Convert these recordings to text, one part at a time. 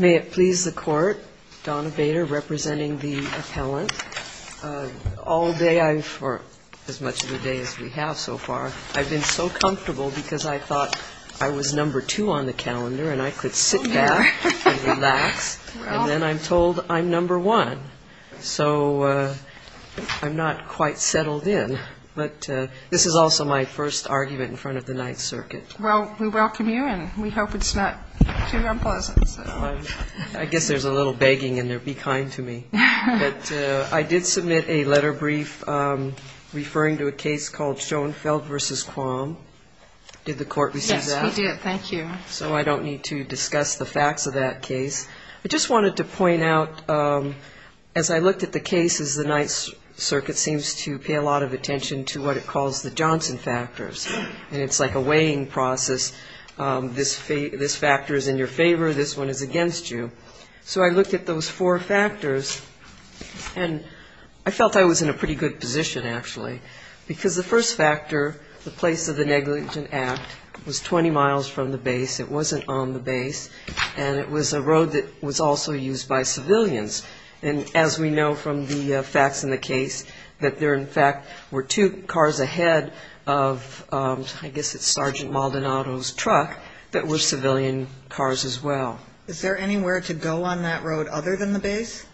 May it please the Court, Donna Bader representing the appellant. All day, or as much of the day as we have so far, I've been so comfortable because I thought I was number two on the calendar and I could sit back and relax. And then I'm told I'm number one, so I'm not quite settled in. But this is also my first argument in front of the Ninth Circuit. Well, we welcome you and we hope it's not too unpleasant. I guess there's a little begging in there. Be kind to me. But I did submit a letter brief referring to a case called Schoenfeld v. Quam. Did the Court receive that? Yes, we did. Thank you. So I don't need to discuss the facts of that case. I just wanted to point out, as I looked at the cases, the Ninth Circuit seems to pay a lot of attention to what it calls the Johnson factors. And it's like a weighing process. This factor is in your favor, this one is against you. So I looked at those four factors and I felt I was in a pretty good position, actually, because the first factor, the place of the negligent act, was 20 miles from the base. It wasn't on the base. And it was a road that was also used by civilians. And as we know from the facts in the case, that there, in fact, were two cars ahead of, I guess it's Sergeant Maldonado's truck, that were civilian cars as well. Is there anywhere to go on that road other than the base?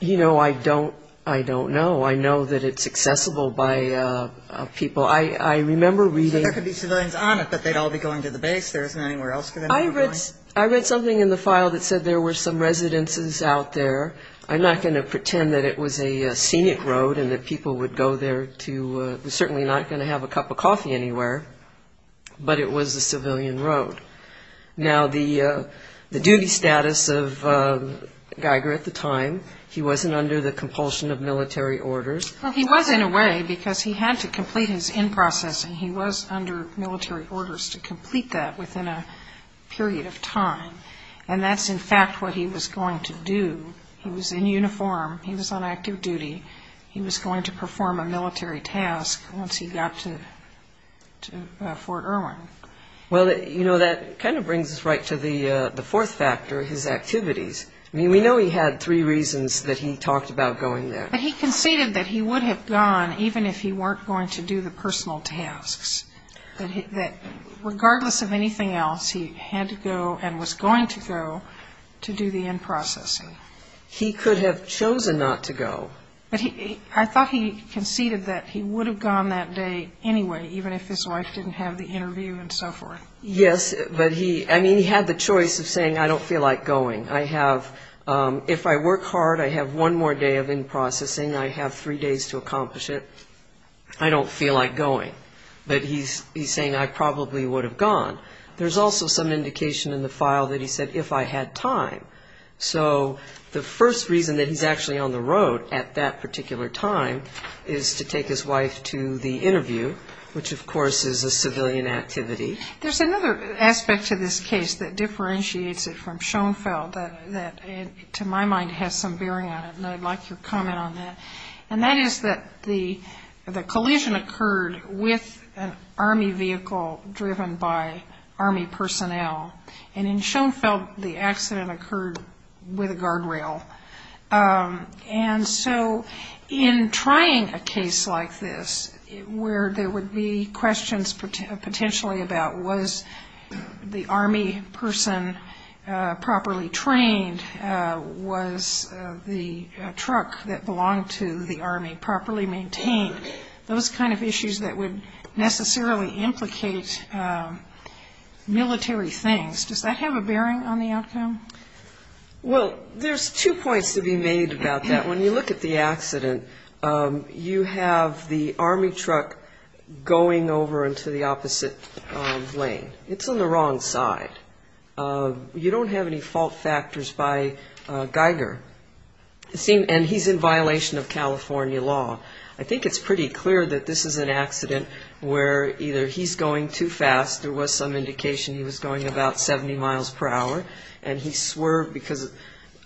You know, I don't know. I know that it's accessible by people. I remember reading. There could be civilians on it, but they'd all be going to the base. There isn't anywhere else for them to be going. I read something in the file that said there were some residences out there. I'm not going to pretend that it was a scenic road and that people would go there to certainly not going to have a cup of coffee anywhere, but it was a civilian road. Now, the duty status of Geiger at the time, he wasn't under the compulsion of military orders. He was, in a way, because he had to complete his in-processing. He was under military orders to complete that within a period of time. And that's, in fact, what he was going to do. He was in uniform. He was on active duty. He was going to perform a military task once he got to Fort Irwin. Well, you know, that kind of brings us right to the fourth factor, his activities. I mean, we know he had three reasons that he talked about going there. But he conceded that he would have gone even if he weren't going to do the personal tasks, that regardless of anything else, he had to go and was going to go to do the in-processing. He could have chosen not to go. I thought he conceded that he would have gone that day anyway, even if his wife didn't have the interview and so forth. Yes, but he had the choice of saying, I don't feel like going. If I work hard, I have one more day of in-processing. I have three days to accomplish it. I don't feel like going. But he's saying, I probably would have gone. There's also some indication in the file that he said, if I had time. So the first reason that he's actually on the road at that particular time is to take his wife to the interview, which, of course, is a civilian activity. There's another aspect to this case that differentiates it from Schoenfeld that, to my mind, has some bearing on it. And I'd like your comment on that. And that is that the collision occurred with an Army vehicle driven by Army personnel. And in Schoenfeld, the accident occurred with a guardrail. And so in trying a case like this, where there would be questions potentially about was the Army person properly trained? Was the truck that belonged to the Army properly maintained? Those kind of issues that would necessarily implicate military things. Does that have a bearing on the outcome? Well, there's two points to be made about that. When you look at the accident, you have the Army truck going over into the opposite lane. It's on the wrong side. You don't have any fault factors by Geiger. And he's in violation of California law. I think it's pretty clear that this is an accident where either he's going too fast, there was some indication he was going about 70 miles per hour, and he swerved because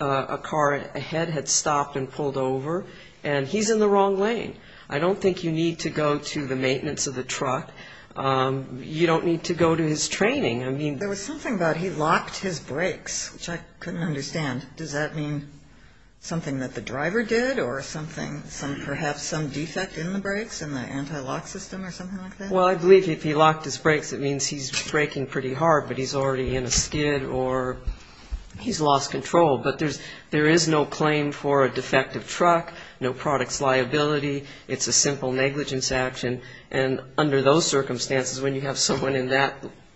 a car ahead had stopped and pulled over. And he's in the wrong lane. I don't think you need to go to the maintenance of the truck. You don't need to go to his training. There was something about he locked his brakes, which I couldn't understand. Does that mean something that the driver did or perhaps some defect in the brakes in the anti-lock system or something like that? Well, I believe if he locked his brakes, it means he's braking pretty hard, but he's already in a skid or he's lost control. But there is no claim for a defective truck, no products liability. It's a simple negligence action. And under those circumstances, when you have someone in that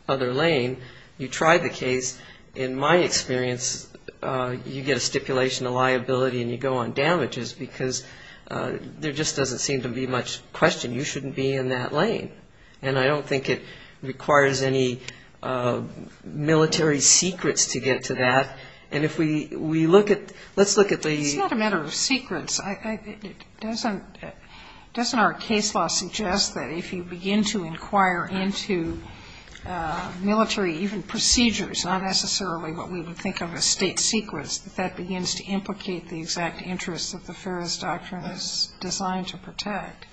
other lane, you try the case. In my experience, you get a stipulation of liability and you go on damages because there just doesn't seem to be much question. You shouldn't be in that lane. And I don't think it requires any military secrets to get to that. And if we look at the ‑‑ It's not a matter of secrets. Doesn't our case law suggest that if you begin to inquire into military, even procedures, not necessarily what we would think of as state secrets, that that begins to implicate the exact interests that the Ferris Doctrine is designed to protect?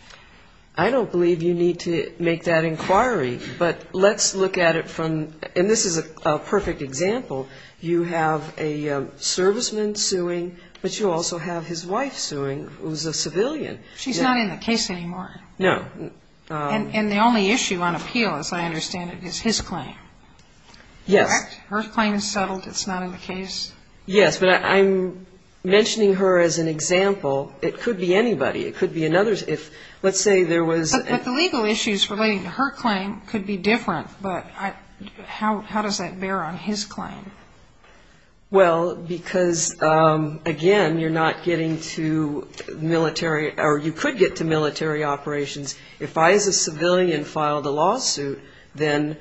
I don't believe you need to make that inquiry. But let's look at it from ‑‑ and this is a perfect example. You have a serviceman suing, but you also have his wife suing who's a civilian. She's not in the case anymore. No. And the only issue on appeal, as I understand it, is his claim. Yes. Correct? Her claim is settled. It's not in the case. Yes, but I'm mentioning her as an example. It could be anybody. Let's say there was ‑‑ But the legal issues relating to her claim could be different, but how does that bear on his claim? Well, because, again, you're not getting to military or you could get to military operations. If I, as a civilian, filed a lawsuit, then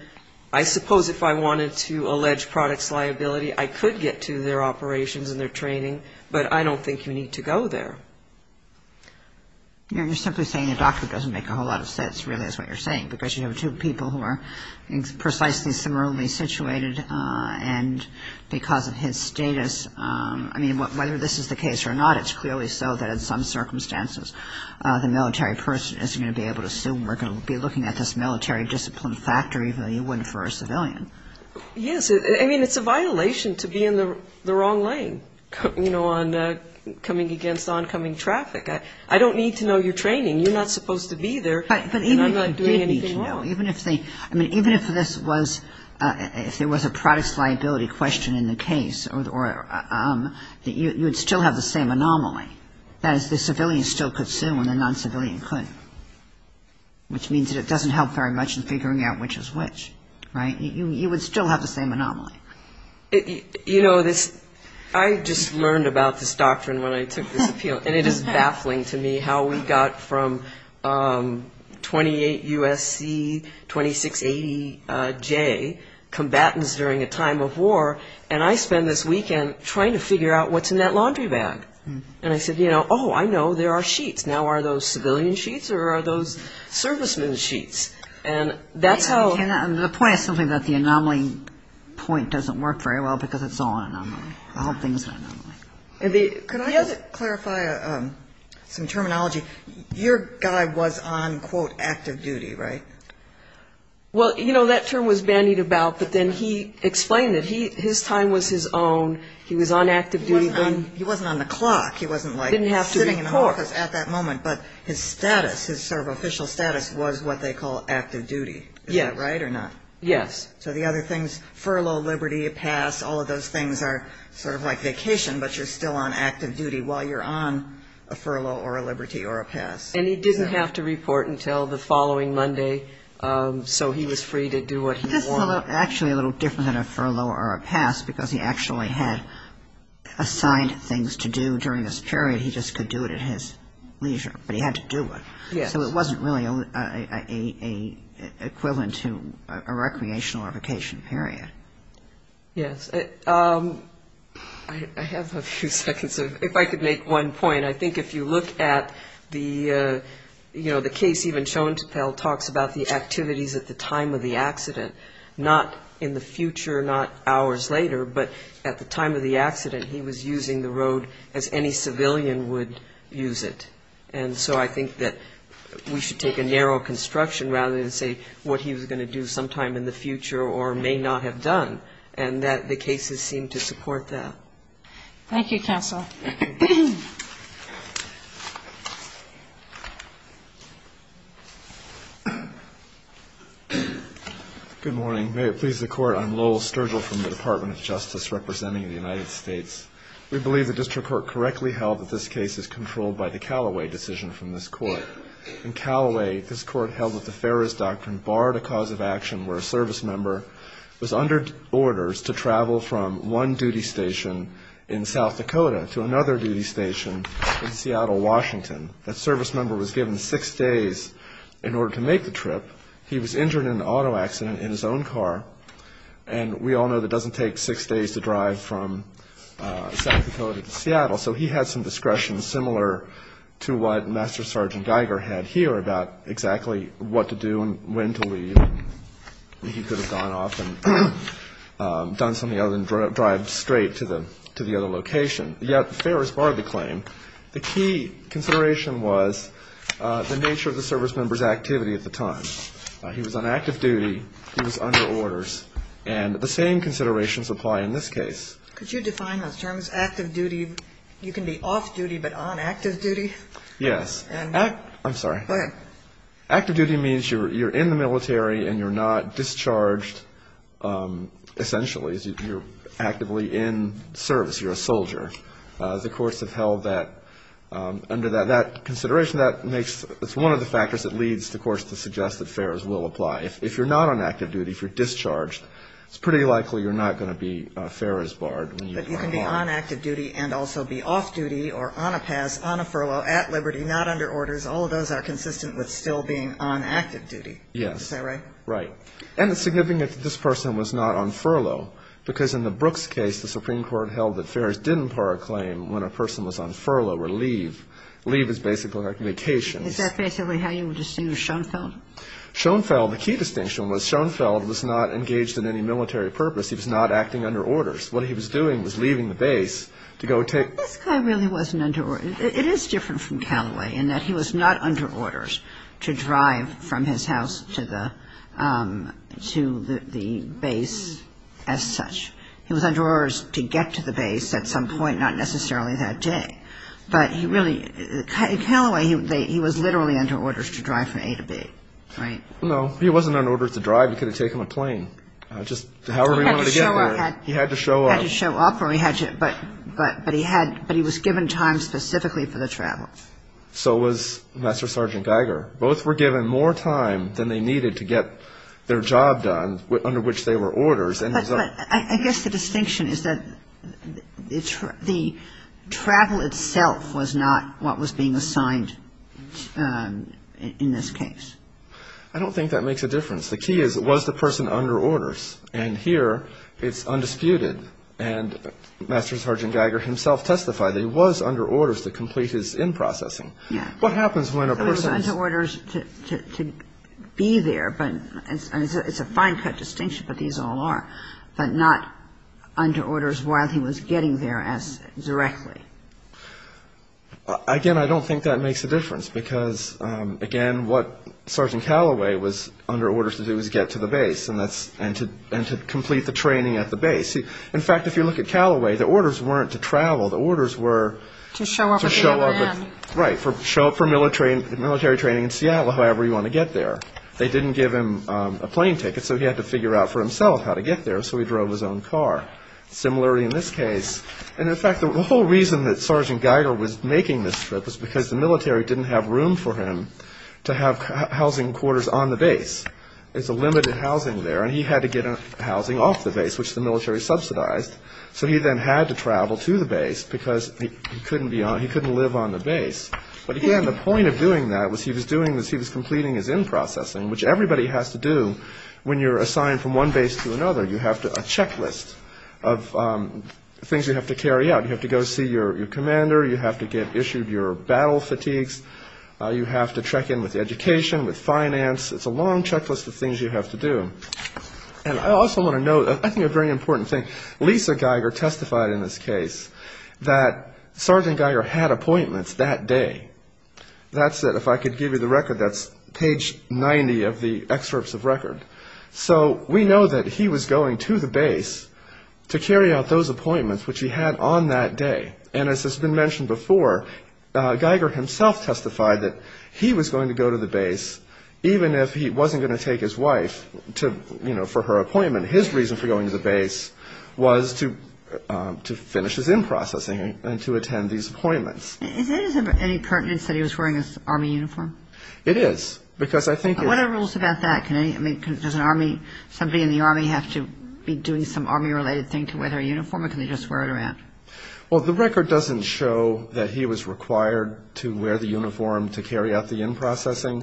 I suppose if I wanted to allege products liability, I could get to their operations and their training, but I don't think you need to go there. You're simply saying a doctor doesn't make a whole lot of sense, really, is what you're saying, because you have two people who are precisely similarly situated, and because of his status, I mean, whether this is the case or not, it's clearly so that in some circumstances the military person is going to be able to assume we're going to be looking at this military discipline factor, even though you wouldn't for a civilian. Yes. I mean, it's a violation to be in the wrong lane, you know, on coming against oncoming traffic. I don't need to know your training. You're not supposed to be there, and I'm not doing anything wrong. But even if you did need to know, even if this was, if there was a products liability question in the case, you would still have the same anomaly. That is, the civilian still could sue and the non‑civilian couldn't, which means that it doesn't help very much in figuring out which is which, right? You would still have the same anomaly. You know, I just learned about this doctrine when I took this appeal, and it is baffling to me how we got from 28 U.S.C., 2680 J, combatants during a time of war, and I spend this weekend trying to figure out what's in that laundry bag. And I said, you know, oh, I know, there are sheets. And that's how ‑‑ The point is simply that the anomaly point doesn't work very well because it's all anomaly. All things are anomaly. Could I just clarify some terminology? Your guy was on, quote, active duty, right? Well, you know, that term was bandied about, but then he explained it. His time was his own. He was on active duty. He wasn't on the clock. He wasn't, like, sitting in an office at that moment. But his status, his sort of official status was what they call active duty. Is that right or not? Yes. So the other things, furlough, liberty, a pass, all of those things are sort of like vacation, but you're still on active duty while you're on a furlough or a liberty or a pass. And he didn't have to report until the following Monday, so he was free to do what he wanted. This is actually a little different than a furlough or a pass because he actually had assigned things to do during this period. So he just could do it at his leisure, but he had to do it. Yes. So it wasn't really a equivalent to a recreational or vacation period. Yes. I have a few seconds. If I could make one point, I think if you look at the, you know, the case even shown to tell talks about the activities at the time of the accident, not in the future, not hours later, but at the time of the accident, he was using the road as any civilian would use it. And so I think that we should take a narrow construction rather than say what he was going to do sometime in the future or may not have done, and that the cases seem to support that. Thank you, counsel. Good morning. May it please the Court, I'm Lowell Sturgill from the Department of Justice representing the United States. We believe the district court correctly held that this case is controlled by the Callaway decision from this court. In Callaway, this court held that the Ferris Doctrine barred a cause of action where a service member was under orders to travel from one duty station in South Dakota to another duty station in Seattle, Washington. That service member was given six days in order to make the trip. He was injured in an auto accident in his own car, and we all know that it doesn't take six days to drive from South Dakota to Seattle, so he had some discretion similar to what Master Sergeant Geiger had here about exactly what to do and when to leave. He could have gone off and done something other than drive straight to the other location, yet Ferris barred the claim. The key consideration was the nature of the service member's activity at the time. He was on active duty. He was under orders. And the same considerations apply in this case. Could you define those terms, active duty? You can be off duty but on active duty? Yes. I'm sorry. Go ahead. Active duty means you're in the military and you're not discharged essentially. You're actively in service. You're a soldier. The courts have held that under that consideration, that makes one of the factors that leads the courts to suggest that Ferris will apply. If you're not on active duty, if you're discharged, it's pretty likely you're not going to be Ferris barred. But you can be on active duty and also be off duty or on a pass, on a furlough, at liberty, not under orders. All of those are consistent with still being on active duty. Yes. Is that right? Right. And it's significant that this person was not on furlough because in the Brooks case, the Supreme Court held that Ferris didn't par a claim when a person was on furlough or leave. Leave is basically communications. Is that basically how you would distinguish Schoenfeld? Schoenfeld, the key distinction was Schoenfeld was not engaged in any military purpose. He was not acting under orders. What he was doing was leaving the base to go take – This guy really wasn't under – it is different from Callaway in that he was not under orders to drive from his house to the base as such. He was under orders to get to the base at some point, not necessarily that day. But he really – Callaway, he was literally under orders to drive from A to B. Right? No. He wasn't under orders to drive. He could have taken a plane. Just however he wanted to get there. He had to show up. He had to show up. He had to show up or he had to – but he had – but he was given time specifically for the travel. So was Master Sergeant Geiger. Both were given more time than they needed to get their job done under which they were orders. But I guess the distinction is that the travel itself was not what was being assigned in this case. I don't think that makes a difference. The key is, was the person under orders? And here it's undisputed. And Master Sergeant Geiger himself testified that he was under orders to complete his in-processing. Yeah. What happens when a person – to be there. It's a fine-cut distinction, but these all are. But not under orders while he was getting there as directly. Again, I don't think that makes a difference. Because, again, what Sergeant Callaway was under orders to do was get to the base and to complete the training at the base. In fact, if you look at Callaway, the orders weren't to travel. The orders were – To show up at the other end. Right. To show up for military training in Seattle, however you want to get there. They didn't give him a plane ticket, so he had to figure out for himself how to get there, so he drove his own car. Similar in this case. And, in fact, the whole reason that Sergeant Geiger was making this trip was because the military didn't have room for him to have housing quarters on the base. There's a limited housing there, and he had to get housing off the base, which the military subsidized. So he then had to travel to the base because he couldn't live on the base. But, again, the point of doing that was he was completing his in-processing, which everybody has to do when you're assigned from one base to another. You have a checklist of things you have to carry out. You have to go see your commander. You have to get issued your battle fatigues. You have to check in with education, with finance. It's a long checklist of things you have to do. And I also want to note, I think, a very important thing. Lisa Geiger testified in this case that Sergeant Geiger had appointments that day. That's it. If I could give you the record, that's page 90 of the excerpts of record. So we know that he was going to the base to carry out those appointments, which he had on that day. And as has been mentioned before, Geiger himself testified that he was going to go to the base, even if he wasn't going to take his wife to, you know, for her appointment. His reason for going to the base was to finish his in-processing and to attend these appointments. Is there any pertinence that he was wearing his Army uniform? It is. Because I think it's... What are the rules about that? I mean, does an Army, somebody in the Army, have to be doing some Army-related thing to wear their uniform, or can they just wear it around? Well, the record doesn't show that he was required to wear the uniform to carry out the in-processing.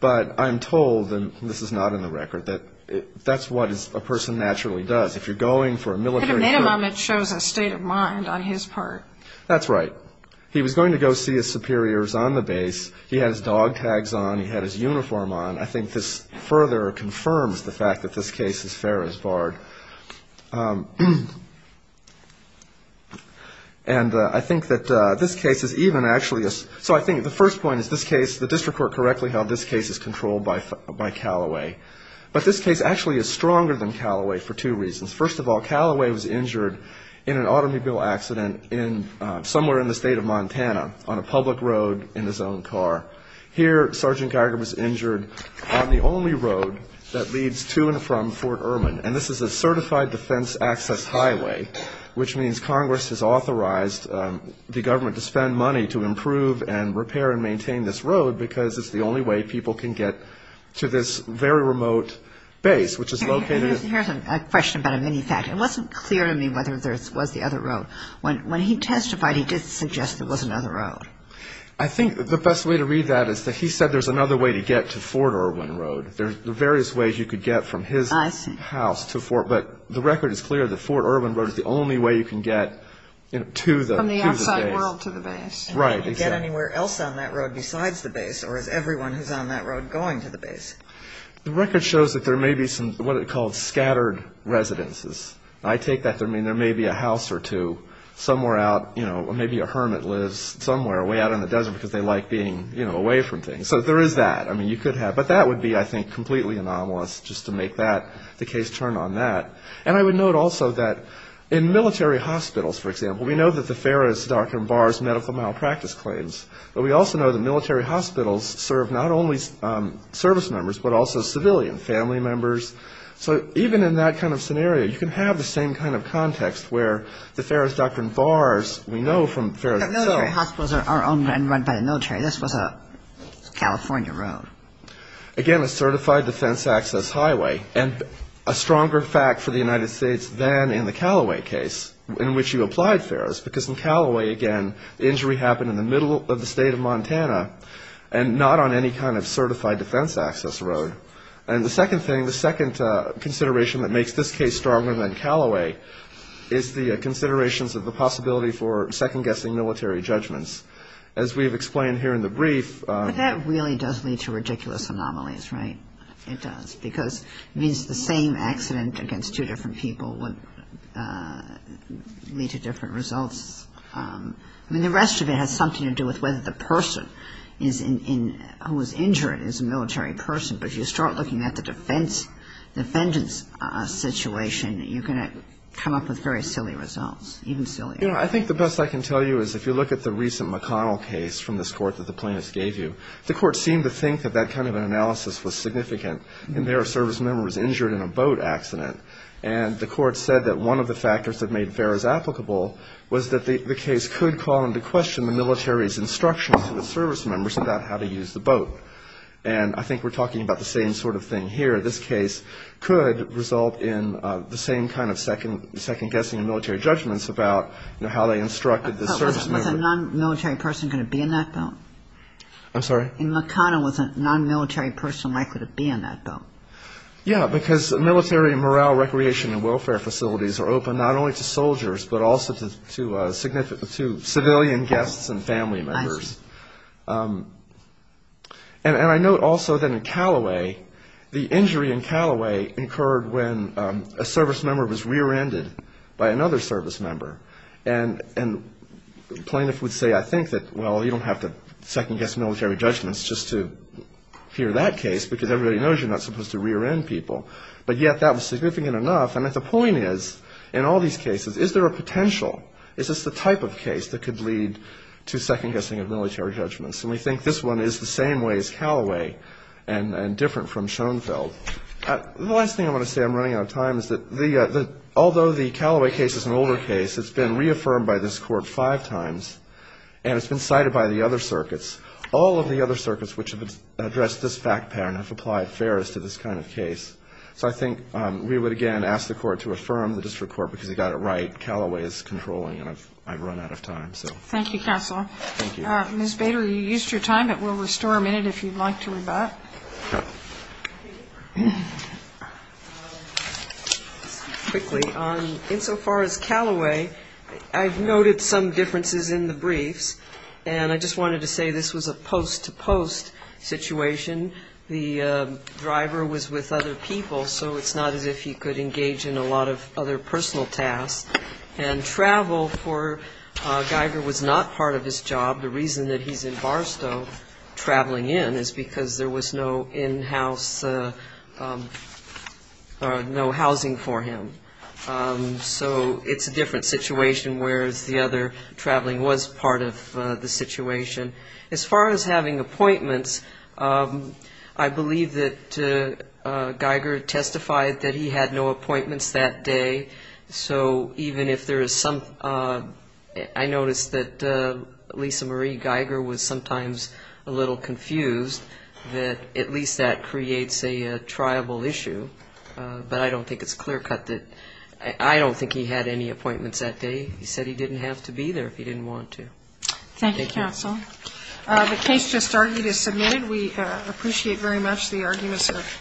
But I'm told, and this is not in the record, that that's what a person naturally does. If you're going for a military trip... At a minimum, it shows a state of mind on his part. That's right. He was going to go see his superiors on the base. He had his dog tags on. He had his uniform on. I think this further confirms the fact that this case is fair as barred. And I think that this case is even actually a... So I think the first point is this case, the district court correctly held this case is controlled by Calloway. But this case actually is stronger than Calloway for two reasons. First of all, Calloway was injured in an automobile accident somewhere in the state of Montana, on a public road in his own car. Here, Sergeant Geiger was injured on the only road that leads to and from Fort Irwin. And this is a certified defense access highway, which means Congress has authorized the government to spend money to improve and repair and maintain this road, because it's the only way people can get to this very remote base, which is located... Here's a question about a mini fact. It wasn't clear to me whether there was the other road. When he testified, he did suggest there was another road. I think the best way to read that is that he said there's another way to get to Fort Irwin Road. There's various ways you could get from his house to Fort. But the record is clear that Fort Irwin Road is the only way you can get to the base. From the outside world to the base. Right. You can't get anywhere else on that road besides the base, or is everyone who's on that road going to the base? The record shows that there may be some what are called scattered residences. I take that to mean there may be a house or two somewhere out, you know, or maybe a hermit lives somewhere way out in the desert because they like being, you know, away from things. So there is that. I mean, you could have. But that would be, I think, completely anomalous just to make the case turn on that. And I would note also that in military hospitals, for example, we know that the Ferris Doctrine bars medical malpractice claims. But we also know that military hospitals serve not only service members but also civilian family members. So even in that kind of scenario, you can have the same kind of context where the Ferris Doctrine bars we know from Ferris. Military hospitals are owned and run by the military. This was a California road. Again, a certified defense access highway, and a stronger fact for the United States than in the Callaway case in which you applied, Ferris, because in Callaway, again, the injury happened in the middle of the state of Montana and not on any kind of certified defense access road. And the second thing, the second consideration that makes this case stronger than Callaway is the considerations of the possibility for second-guessing military judgments. As we have explained here in the brief. But that really does lead to ridiculous anomalies, right? It does. Because it means the same accident against two different people would lead to different results. I mean, the rest of it has something to do with whether the person who was injured is a military person. But if you start looking at the defendant's situation, you're going to come up with very silly results, even sillier. You know, I think the best I can tell you is if you look at the recent McConnell case from this court that the plaintiffs gave you, the court seemed to think that that kind of an analysis was significant, and their service member was injured in a boat accident. And the court said that one of the factors that made Ferris applicable was that the case could call into question the military's instructions to the service members about how to use the boat. And I think we're talking about the same sort of thing here. This case could result in the same kind of second-guessing and military judgments about, you know, how they instructed the service member. Was a non-military person going to be in that boat? I'm sorry? In McConnell, was a non-military person likely to be in that boat? Yeah, because military morale recreation and welfare facilities are open not only to soldiers, but also to civilian guests and family members. Nice. And I note also that in Callaway, the injury in Callaway occurred when a service member was rear-ended by another service member. And the plaintiff would say, I think that, well, you don't have to second-guess military judgments just to hear that case, because everybody knows you're not supposed to rear-end people. But yet that was significant enough. And the point is, in all these cases, is there a potential, is this the type of case that could lead to second-guessing of military judgments? And we think this one is the same way as Callaway and different from Schoenfeld. The last thing I want to say, I'm running out of time, is that although the Callaway case is an older case, it's been reaffirmed by this Court five times, and it's been cited by the other circuits. All of the other circuits which have addressed this fact pattern have applied fairness to this kind of case. So I think we would, again, ask the Court to affirm the district court, because you got it right. Callaway is controlling, and I've run out of time. Thank you, Counsel. Thank you. Ms. Bader, you used your time, but we'll restore a minute if you'd like to rebut. Okay. Quickly, insofar as Callaway, I've noted some differences in the briefs, and I just wanted to say this was a post-to-post situation. The driver was with other people, so it's not as if he could engage in a lot of other personal tasks. And travel for Geiger was not part of his job. The reason that he's in Barstow traveling in is because there was no in-house, no housing for him. So it's a different situation, whereas the other traveling was part of the situation. As far as having appointments, I believe that Geiger testified that he had no appointments that day, so even if there is some – I noticed that Lisa Marie Geiger was sometimes a little confused, that at least that creates a triable issue. But I don't think it's clear-cut that – I don't think he had any appointments that day. He said he didn't have to be there if he didn't want to. Thank you. Thank you, Counsel. The case just argued is submitted. We appreciate very much the arguments here.